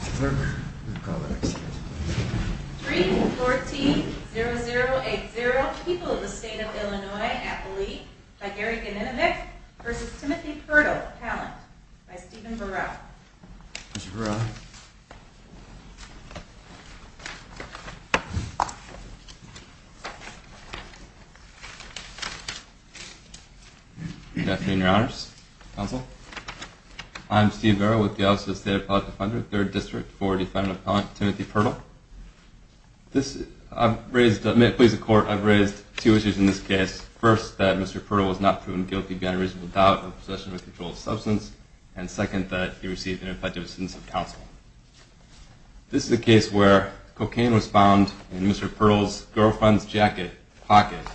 3-14-0080 People of the State of Illinois, Appalachia, by Gary Ganinovich, v. Timothy Purdle, Appalachia, by Stephen Burrell Good afternoon, Your Honors. Counsel. I'm Steve Burrell with the Office of the State Appellate Defender, 3rd District, for defendant-appellant Timothy Purdle. May it please the Court, I've raised two issues in this case. First, that Mr. Purdle was not proven guilty beyond a reasonable doubt of possession of a controlled substance. And second, that he received ineffective assistance from counsel. This is a case where cocaine was found in Mr. Purdle's girlfriend's jacket pocket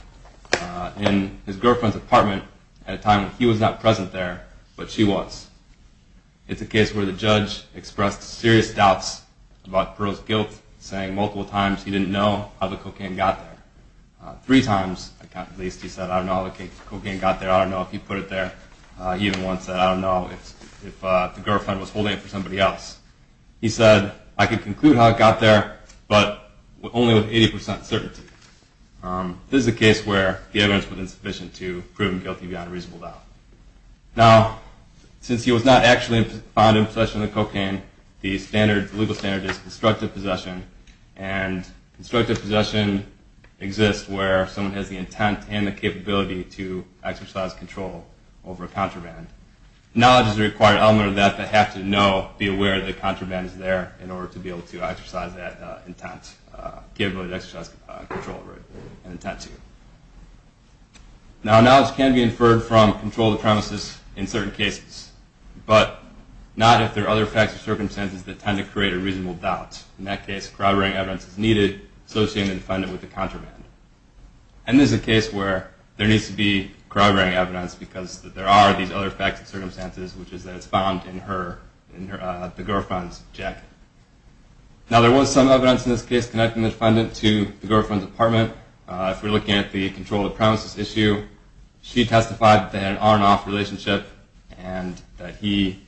in his girlfriend's apartment at a time when he was not present there, but she was. It's a case where the judge expressed serious doubts about Purdle's guilt, saying multiple times he didn't know how the cocaine got there. Three times, at least, he said, I don't know how the cocaine got there, I don't know if he put it there. He even once said, I don't know if the girlfriend was holding it for somebody else. He said, I can conclude how it got there, but only with 80% certainty. This is a case where the evidence was insufficient to prove him guilty beyond a reasonable doubt. Now, since he was not actually found in possession of the cocaine, the legal standard is constructive possession. And constructive possession exists where someone has the intent and the capability to exercise control over a contraband. Knowledge is a required element of that, but have to know, be aware that the contraband is there in order to be able to exercise that intent, capability to exercise control over it and intent to. Now, knowledge can be inferred from control of the premises in certain cases, but not if there are other facts or circumstances that tend to create a reasonable doubt. In that case, corroborating evidence is needed, associating the defendant with the contraband. And this is a case where there needs to be corroborating evidence because there are these other facts and circumstances, which is that it's found in the girlfriend's jacket. Now, there was some evidence in this case connecting the defendant to the girlfriend's apartment. If we're looking at the control of the premises issue, she testified that they had an on and off relationship and that he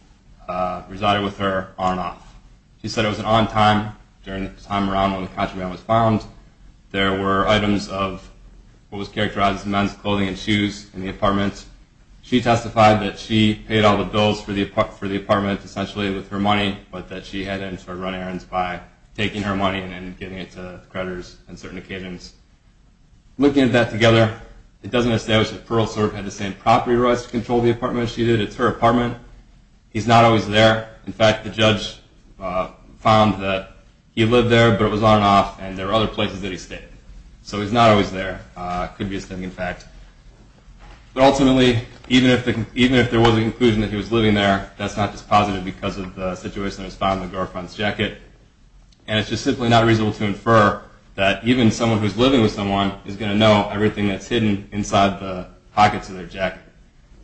resided with her on and off. She said it was an on time during the time around when the contraband was found. There were items of what was characterized as men's clothing and shoes in the apartment. She testified that she paid all the bills for the apartment essentially with her money, but that she had to run errands by taking her money and giving it to creditors on certain occasions. Looking at that together, it doesn't establish that Pearl sort of had the same property rights to control the apartment as she did. It's her apartment. He's not always there. In fact, the judge found that he lived there, but it was on and off, and there were other places that he stayed. So he's not always there. It could be a stinging fact. But ultimately, even if there was a conclusion that he was living there, that's not just positive because of the situation that was found in the girlfriend's jacket. And it's just simply not reasonable to infer that even someone who's living with someone is going to know everything that's hidden inside the pockets of their jacket.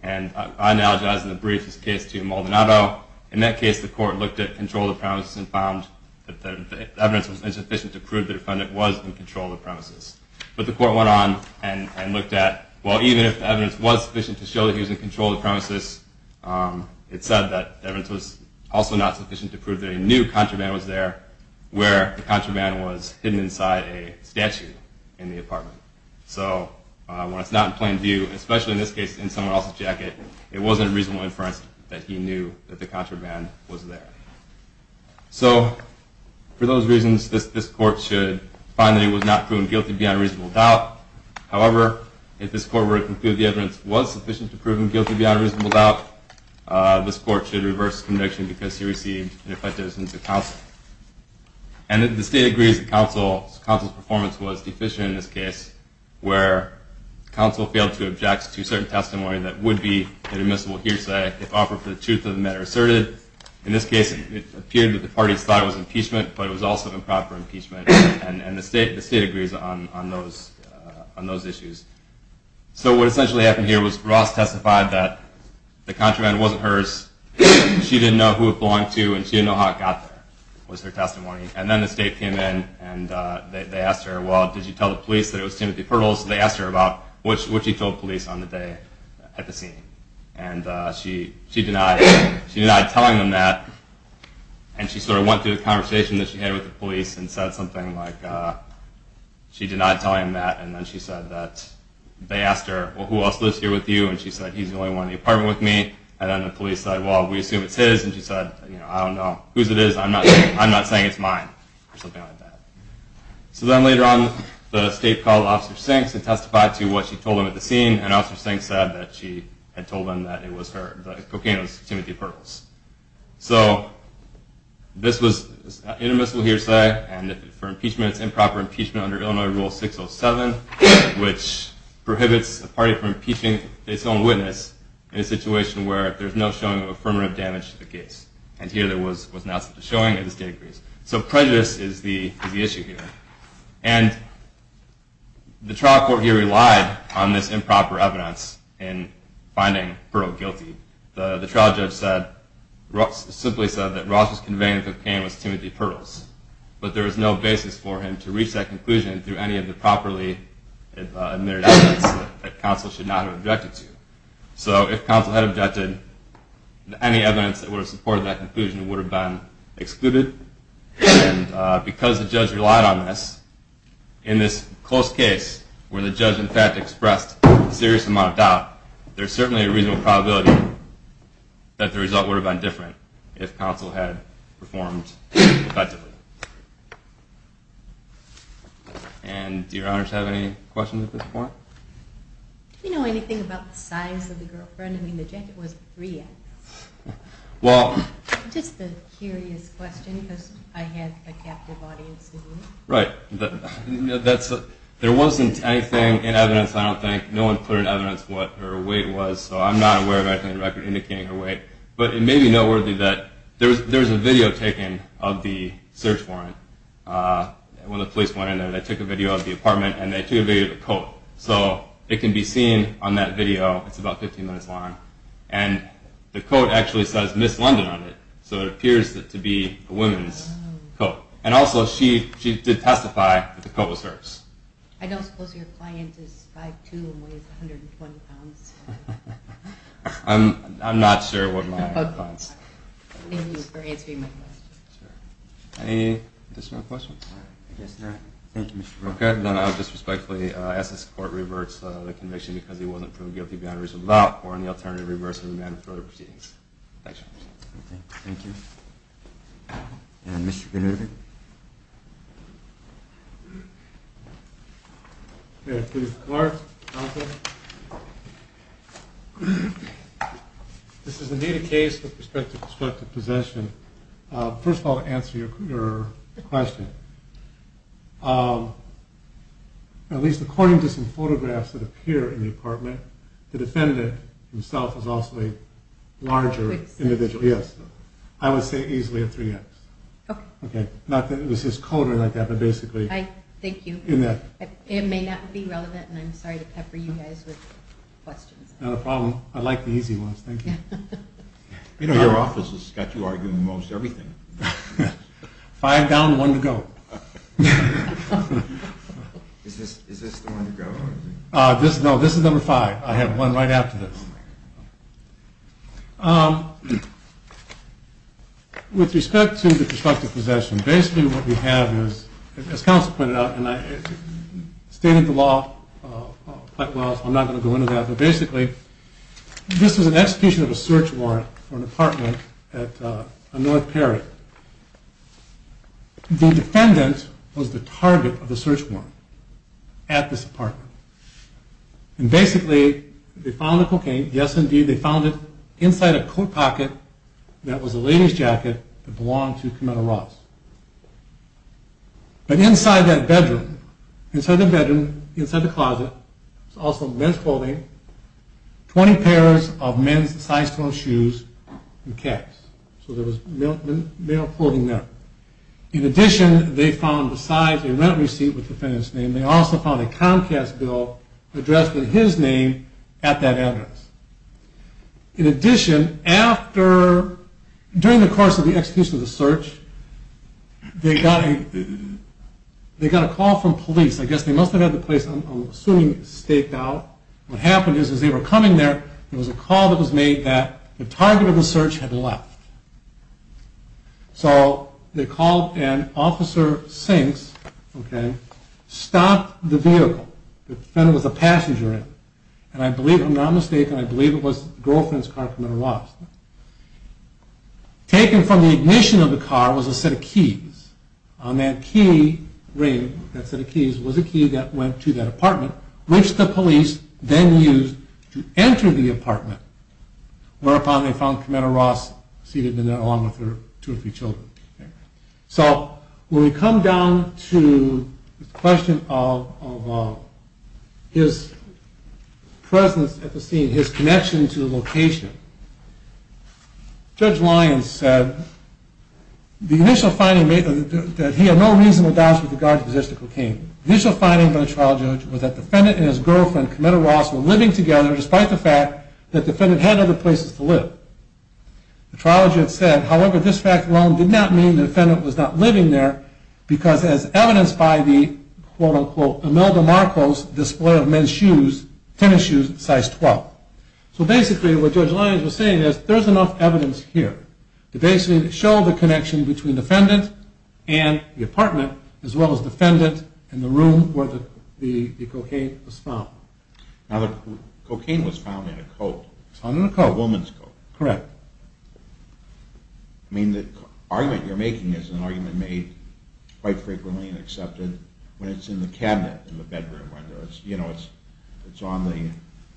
And I apologize in the briefest case to Maldonado. In that case, the court looked at control of the premises and found that the evidence was insufficient to prove that the defendant was in control of the premises. But the court went on and looked at, well, even if the evidence was sufficient to show that he was in control of the premises, it said that the evidence was also not sufficient to prove that a new contraband was there where the contraband was hidden inside a statue in the apartment. So when it's not in plain view, especially in this case in someone else's jacket, it wasn't a reasonable inference that he knew that the contraband was there. So for those reasons, this court should find that he was not proven guilty beyond reasonable doubt. However, if this court were to conclude the evidence was sufficient to prove him guilty beyond reasonable doubt, this court should reverse conviction because he received an effective instance of counsel. And the state agrees that counsel's performance was deficient in this case, where counsel failed to object to certain testimony that would be an admissible hearsay if offered for the truth of the matter asserted. In this case, it appeared that the parties thought it was impeachment, but it was also improper impeachment. And the state agrees on those issues. So what essentially happened here was Ross testified that the contraband wasn't hers. She didn't know who it belonged to, and she didn't know how it got there was her testimony. And then the state came in, and they asked her, well, did you tell the police that it was Timothy Pearls? They asked her about what she told police on the day at the scene. And she denied telling them that. And she sort of went through the conversation that she had with the police and said something like, she denied telling them that. And then she said that they asked her, well, who else lives here with you? And she said, he's the only one in the apartment with me. And then the police said, well, we assume it's his. And she said, I don't know whose it is. I'm not saying it's mine or something like that. So then later on, the state called Officer Sinks and testified to what she told them at the scene. And Officer Sinks said that she had told them that it was her, the cocaine was Timothy Pearls. So this was intermissive hearsay. And for impeachment, it's improper impeachment under Illinois Rule 607, which prohibits a party from impeaching its own witness in a situation where there's no showing of affirmative damage to the case. And here, there was no showing, and the state agrees. So prejudice is the issue here. And the trial court here relied on this improper evidence in finding Pearl guilty. The trial judge simply said that Ross was conveying that the cocaine was Timothy Pearls. But there was no basis for him to reach that conclusion through any of the properly admitted evidence that counsel should not have objected to. So if counsel had objected, any evidence that would have supported that conclusion would have been excluded. And because the judge relied on this, in this close case where the judge, in fact, expressed a serious amount of doubt, there's certainly a reasonable probability that the result would have been different if counsel had performed effectively. And do your honors have any questions at this point? Do you know anything about the size of the girlfriend? I mean, the jacket wasn't free yet. Just a curious question, because I have a captive audience. Right. There wasn't anything in evidence, I don't think. No one put in evidence what her weight was, so I'm not aware of anything on record indicating her weight. But it may be noteworthy that there was a video taken of the search warrant when the police went in there. They took a video of the apartment, and they took a video of the coat. So it can be seen on that video. It's about 15 minutes long. And the coat actually says Miss London on it, so it appears to be a woman's coat. And also, she did testify that the coat was hers. I don't suppose your client is 5'2 and weighs 120 pounds? I'm not sure what my client's. Thank you for answering my question. Any additional questions? I guess not. Okay, then I'll just respectfully ask that this Court reverts the conviction because he wasn't proven guilty beyond reasonable doubt, or on the alternative, reverse the remand for further proceedings. Thank you. Thank you. And Mr. Grunewald? Okay, please. Clark, Jonathan. This is indeed a case with respect to destructive possession. First of all, to answer your question, at least according to some photographs that appear in the apartment, the defendant himself is also a larger individual. Yes. I would say easily a 3X. Okay. Not that it was his coat or anything like that, but basically. Thank you. It may not be relevant, and I'm sorry to pepper you guys with questions. Not a problem. I like the easy ones. Thank you. You know, your office has got you arguing most everything. Five down, one to go. Is this the one to go? No, this is number five. I have one right after this. With respect to the destructive possession, basically what we have is, as counsel pointed out, and I stated the law quite well, so I'm not going to go into that, but basically this is an execution of a search warrant for an apartment at North Perry. The defendant was the target of the search warrant at this apartment. And basically they found the cocaine. Yes, indeed. They found it inside a coat pocket that was a lady's jacket that belonged to Commodore Ross. But inside that bedroom, inside the bedroom, inside the closet, there was also men's clothing, 20 pairs of men's size-fitting shoes, and caps. So there was male clothing there. In addition, they found, besides a rent receipt with the defendant's name, they also found a Comcast bill addressed with his name at that address. In addition, during the course of the execution of the search, they got a call from police. I guess they must have had the place, I'm assuming, staked out. What happened is, as they were coming there, there was a call that was made that the target of the search had left. So they called and Officer Sinks stopped the vehicle. The defendant was a passenger in it. And I believe, if I'm not mistaken, I believe it was the girlfriend's car, Commodore Ross. Taken from the ignition of the car was a set of keys. On that key ring, that set of keys, was a key that went to that apartment, which the police then used to enter the apartment, whereupon they found Commodore Ross seated in there, along with her two or three children. So, when we come down to the question of his presence at the scene, his connection to the location, Judge Lyons said, the initial finding made that he had no reasonable doubts with regard to the existence of cocaine. The initial finding by the trial judge was that the defendant and his girlfriend, Commodore Ross, were living together, despite the fact that the defendant had other places to live. The trial judge said, however, this fact alone did not mean the defendant was not living there, because as evidenced by the, quote-unquote, Imelda Marcos display of men's shoes, tennis shoes, size 12. So basically, what Judge Lyons was saying is, there's enough evidence here to basically show the connection between the defendant and the apartment, Now, the cocaine was found in a coat. It was found in a coat. A woman's coat. Correct. I mean, the argument you're making is an argument made quite frequently and accepted when it's in the cabinet in the bedroom window. You know, it's on the,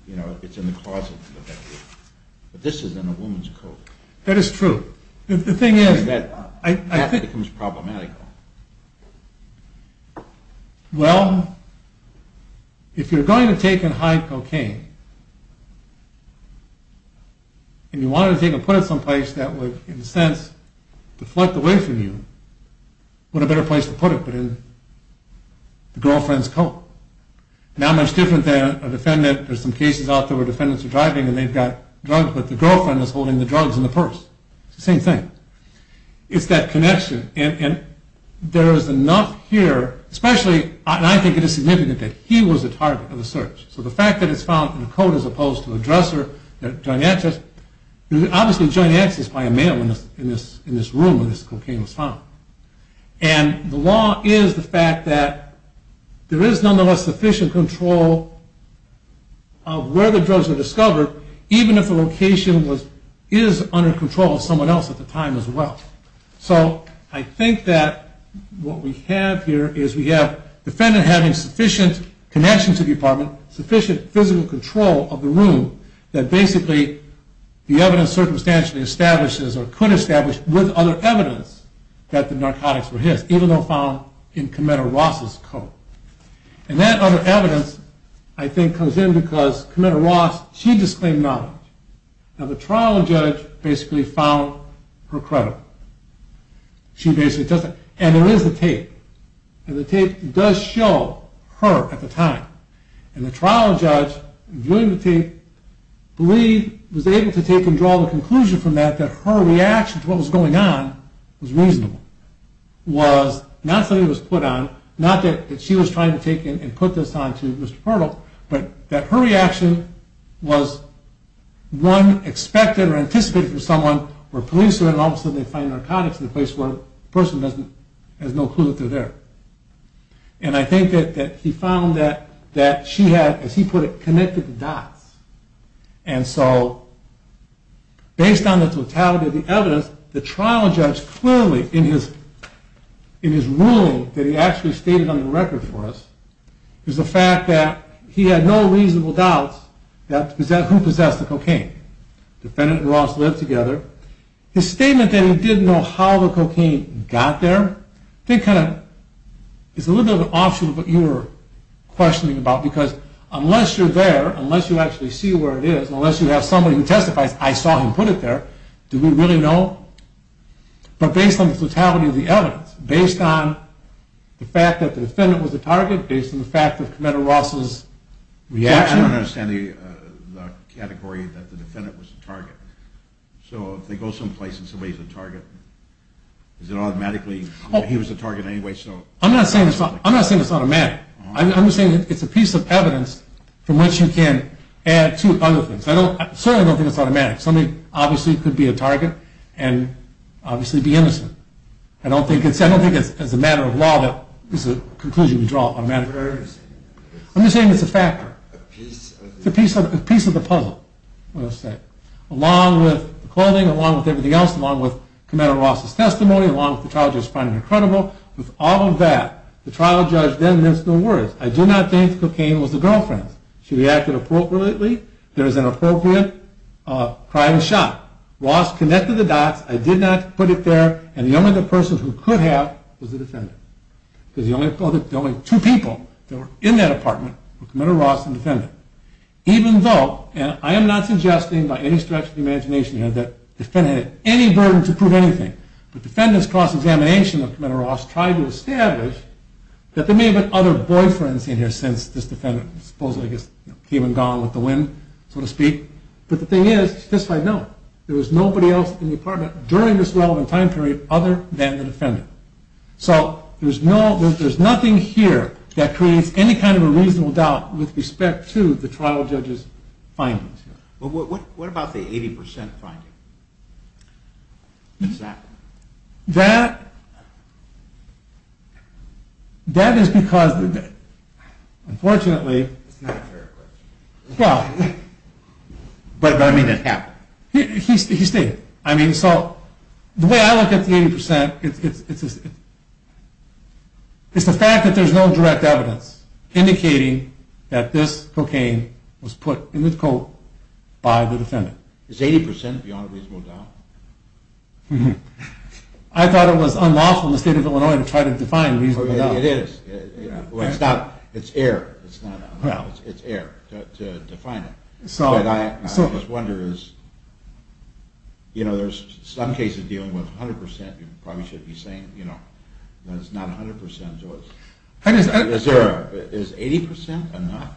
you know, it's in the closet in the bedroom. But this is in a woman's coat. That is true. The thing is, I think... That becomes problematic. Well, if you're going to take and hide cocaine, and you want to take and put it someplace that would, in a sense, deflect away from you, what a better place to put it but in the girlfriend's coat. Not much different than a defendant, there's some cases out there where defendants are driving and they've got drugs, but the girlfriend is holding the drugs in the purse. It's the same thing. It's that connection. And there is enough here, especially, and I think it is significant, that he was the target of the search. So the fact that it's found in a coat as opposed to a dresser, there's obviously a joint access by a man in this room where this cocaine was found. And the law is the fact that there is nonetheless sufficient control of where the drugs are discovered, even if the location is under control of someone else at the time as well. So I think that what we have here is we have a defendant having sufficient connection to the apartment, sufficient physical control of the room, that basically the evidence circumstantially establishes or could establish with other evidence that the narcotics were his, And that other evidence, I think, comes in because Commander Ross, she disclaimed knowledge. Now the trial judge basically found her credit. And there is a tape, and the tape does show her at the time. And the trial judge, viewing the tape, was able to draw the conclusion from that that her reaction to what was going on was reasonable. Was not something that was put on, not that she was trying to take and put this on to Mr. Purtle, but that her reaction was one expected or anticipated from someone where police are in and all of a sudden they find narcotics in a place where the person has no clue that they're there. And I think that he found that she had, as he put it, connected the dots. And so, based on the totality of the evidence, the trial judge clearly in his ruling that he actually stated on the record for us is the fact that he had no reasonable doubts who possessed the cocaine. The defendant and Ross lived together. His statement that he didn't know how the cocaine got there, I think kind of, is a little bit of an offshoot of what you were questioning about, because unless you're there, unless you actually see where it is, unless you have somebody who testifies, I saw him put it there, do we really know? But based on the totality of the evidence, based on the fact that the defendant was the target, based on the fact that Commodore Ross's reaction... I don't understand the category that the defendant was the target. So if they go someplace and somebody's the target, is it automatically, he was the target anyway, so... I'm not saying it's automatic. I'm just saying it's a piece of evidence from which you can add to other things. I certainly don't think it's automatic. Somebody obviously could be a target and obviously be innocent. I don't think it's a matter of law that this is a conclusion we draw automatically. I'm just saying it's a factor. It's a piece of the puzzle, let's say. Along with the clothing, along with everything else, along with Commodore Ross's testimony, along with the trial judge finding it credible, with all of that, the trial judge then has no worries. I do not think cocaine was the girlfriend's. She reacted appropriately. There is an appropriate crime shot. Ross connected the dots. I did not put it there. And the only other person who could have was the defendant. Because the only two people that were in that apartment were Commodore Ross and the defendant. Even though, and I am not suggesting by any stretch of the imagination here, that the defendant had any burden to prove anything. The defendant's cross-examination of Commodore Ross tried to establish that there may have been other boyfriends in here since this defendant supposedly came and gone with the wind, so to speak. But the thing is, it's justified now. There was nobody else in the apartment during this relevant time period other than the defendant. So there's nothing here that creates any kind of a reasonable doubt with respect to the trial judge's findings. What about the 80% finding? What's that? That is because of the debt. Unfortunately... It's not a fair question. But I mean it happened. He stated it. The way I look at the 80%, it's the fact that there's no direct evidence indicating that this cocaine was put in the coat by the defendant. Is 80% beyond a reasonable doubt? I thought it was unlawful in the state of Illinois to try to define reasonable doubt. It is. It's not, it's error. It's error to define it. But I just wonder is, you know, there's some cases dealing with 100%, you probably should be saying, you know, it's not 100%. Is there, is 80% or not?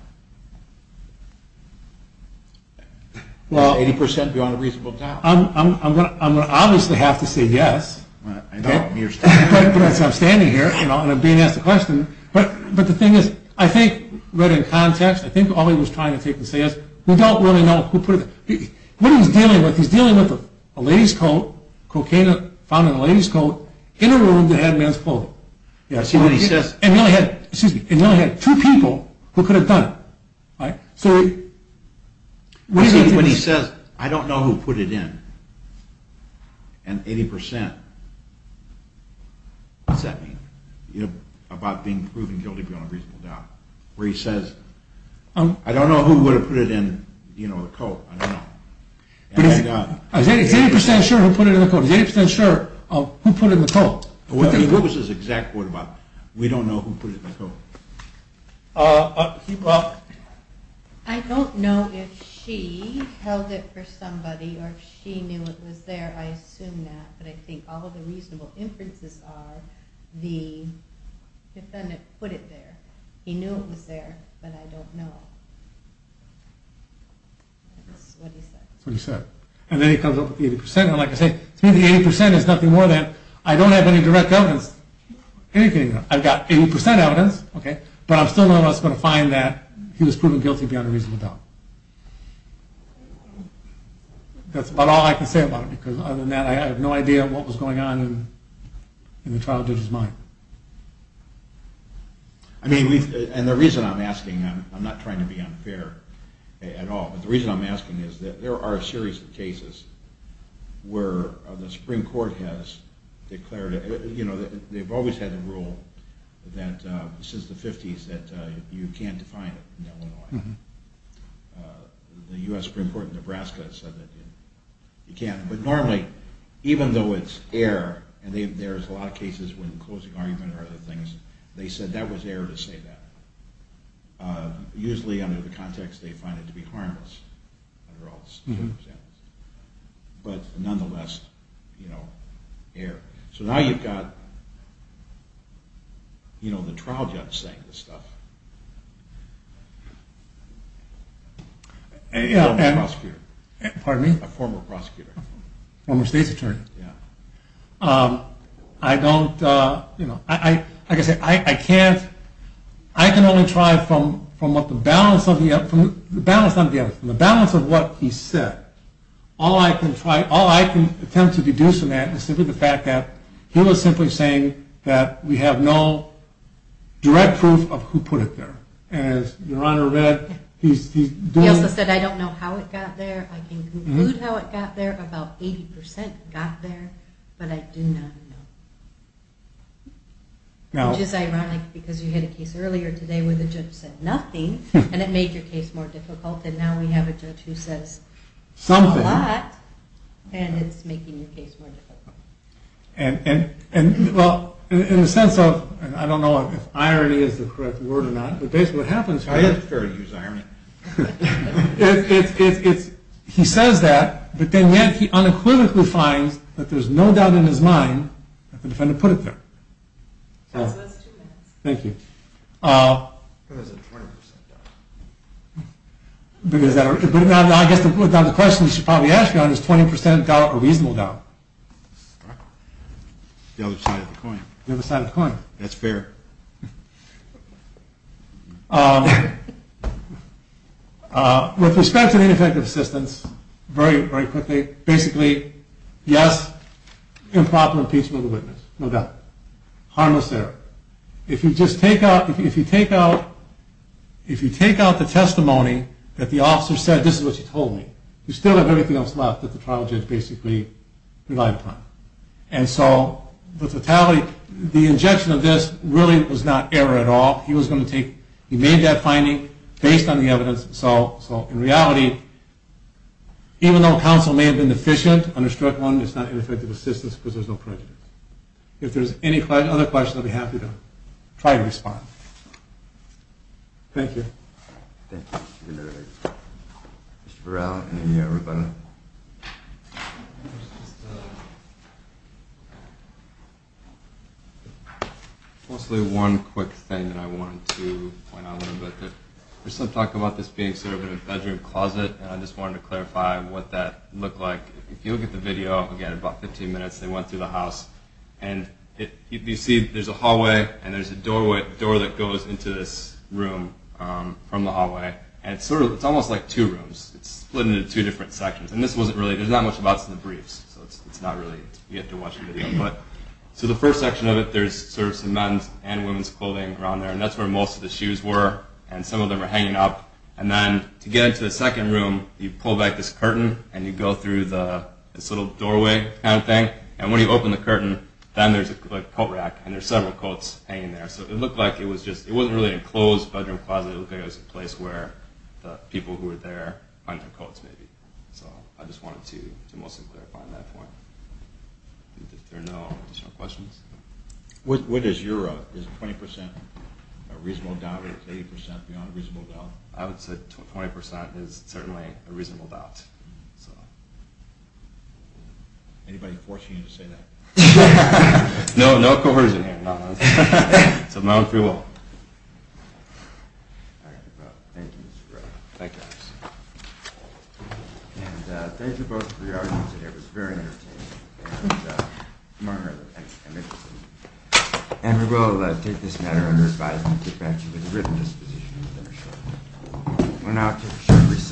Is 80% beyond a reasonable doubt? I'm going to obviously have to say yes. I know. But I'm standing here and I'm being asked a question. But the thing is, I think right in context, I think all he was trying to say is, we don't really know who put it. What he's dealing with, he's dealing with a ladies coat, cocaine found in a ladies coat, in a room that had men's clothing. Yeah, I see what he says. And he only had, excuse me, and he only had two people who could have done it. Right? I see what he says, I don't know who put it in. And 80%, what's that mean? You know, about being proven guilty beyond a reasonable doubt. Where he says, I don't know who would have put it in, you know, the coat. I don't know. Is 80% sure who put it in the coat? Is 80% sure who put it in the coat? What was his exact quote about? We don't know who put it in the coat. I don't know if she held it for somebody or if she knew it was there. I assume that. But I think all of the reasonable inferences are the defendant put it there. He knew it was there, but I don't know. That's what he said. That's what he said. And then he comes up with the 80%. And like I say, to me the 80% is nothing more than, I don't have any direct evidence. Anything. I've got 80% evidence, but I'm still not going to find that he was proven guilty beyond a reasonable doubt. That's about all I can say about it. Because other than that, I have no idea what was going on in the trial judge's mind. I mean, and the reason I'm asking, I'm not trying to be unfair at all. The reason I'm asking is that there are a series of cases where the Supreme Court has declared, you know, they've always had the rule that since the 50s that you can't define it in Illinois. The U.S. Supreme Court in Nebraska has said that you can't. But normally, even though it's air, and there's a lot of cases when closing argument or other things, they said that was air to say that. Usually under the context they find it to be harmless. But nonetheless, you know, air. So now you've got, you know, the trial judge saying this stuff. And a prosecutor. Pardon me? A former prosecutor. Former state's attorney. Yeah. I don't, you know, like I said, I can't, I can only try from what the balance of, the balance of what he said. All I can try, all I can attempt to deduce from that is simply the fact that he was simply saying that we have no direct proof of who put it there. And as Your Honor read, he's doing. He also said I don't know how it got there. I can conclude how it got there. About 80% got there. But I do not know. Which is ironic, because you had a case earlier today where the judge said nothing, and it made your case more difficult. And now we have a judge who says a lot, and it's making your case more difficult. And, well, in the sense of, I don't know if irony is the correct word or not, but basically what happens is. I think it's fair to use irony. It's, it's, it's, he says that, but then yet he unequivocally finds that there's no doubt in his mind that the defendant put it there. So that's two minutes. Thank you. What is it, 20% doubt? Because that, I guess the question you should probably ask, Your Honor, is 20% doubt a reasonable doubt? The other side of the coin. The other side of the coin. That's fair. With respect to the ineffective assistance, very, very quickly. Basically, yes, improper impeachment of the witness. No doubt. Harmless error. If you just take out, if you take out, if you take out the testimony that the officer said, this is what you told me, you still have everything else left that the trial judge basically relied upon. And so the totality, the injection of this really was not error at all. He was going to take, he made that finding based on the evidence. So, so in reality, even though counsel may have been deficient on this direct one, it's not ineffective assistance because there's no prejudice. If there's any other questions, I'll be happy to try to respond. Thank you. Thank you, Mr. Neri. Mr. Verrilli, any everybody? Mostly one quick thing that I wanted to point out a little bit. There's some talk about this being sort of in a bedroom closet. And I just wanted to clarify what that looked like. If you look at the video, again, about 15 minutes, they went through the house. And you see there's a hallway and there's a door that goes into this room from the hallway. And it's sort of, it's almost like two rooms. It's split into two different sections. And this wasn't really, there's not much about some of the briefs. So it's not really, you have to watch the video. So the first section of it, there's sort of some men's and women's clothing around there. And that's where most of the shoes were. And some of them are hanging up. And then to get into the second room, you pull back this curtain and you go through this little doorway kind of thing. And when you open the curtain, then there's a coat rack. And there's several coats hanging there. So it looked like it was just, it wasn't really a closed bedroom closet. It looked like it was a place where the people who were there hung their coats maybe. So I just wanted to mostly clarify on that point. If there are no additional questions. What is your, is 20% a reasonable doubt, or is 80% beyond a reasonable doubt? I would say 20% is certainly a reasonable doubt. Anybody forcing you to say that? No, no coercion here. It's a mountain free wall. All right, well, thank you, Mr. Ray. Thank you, Alex. And thank you both for your arguments today. It was very entertaining. And we will take this matter under advisement and take back to you with a written disposition. We'll now take a short recess.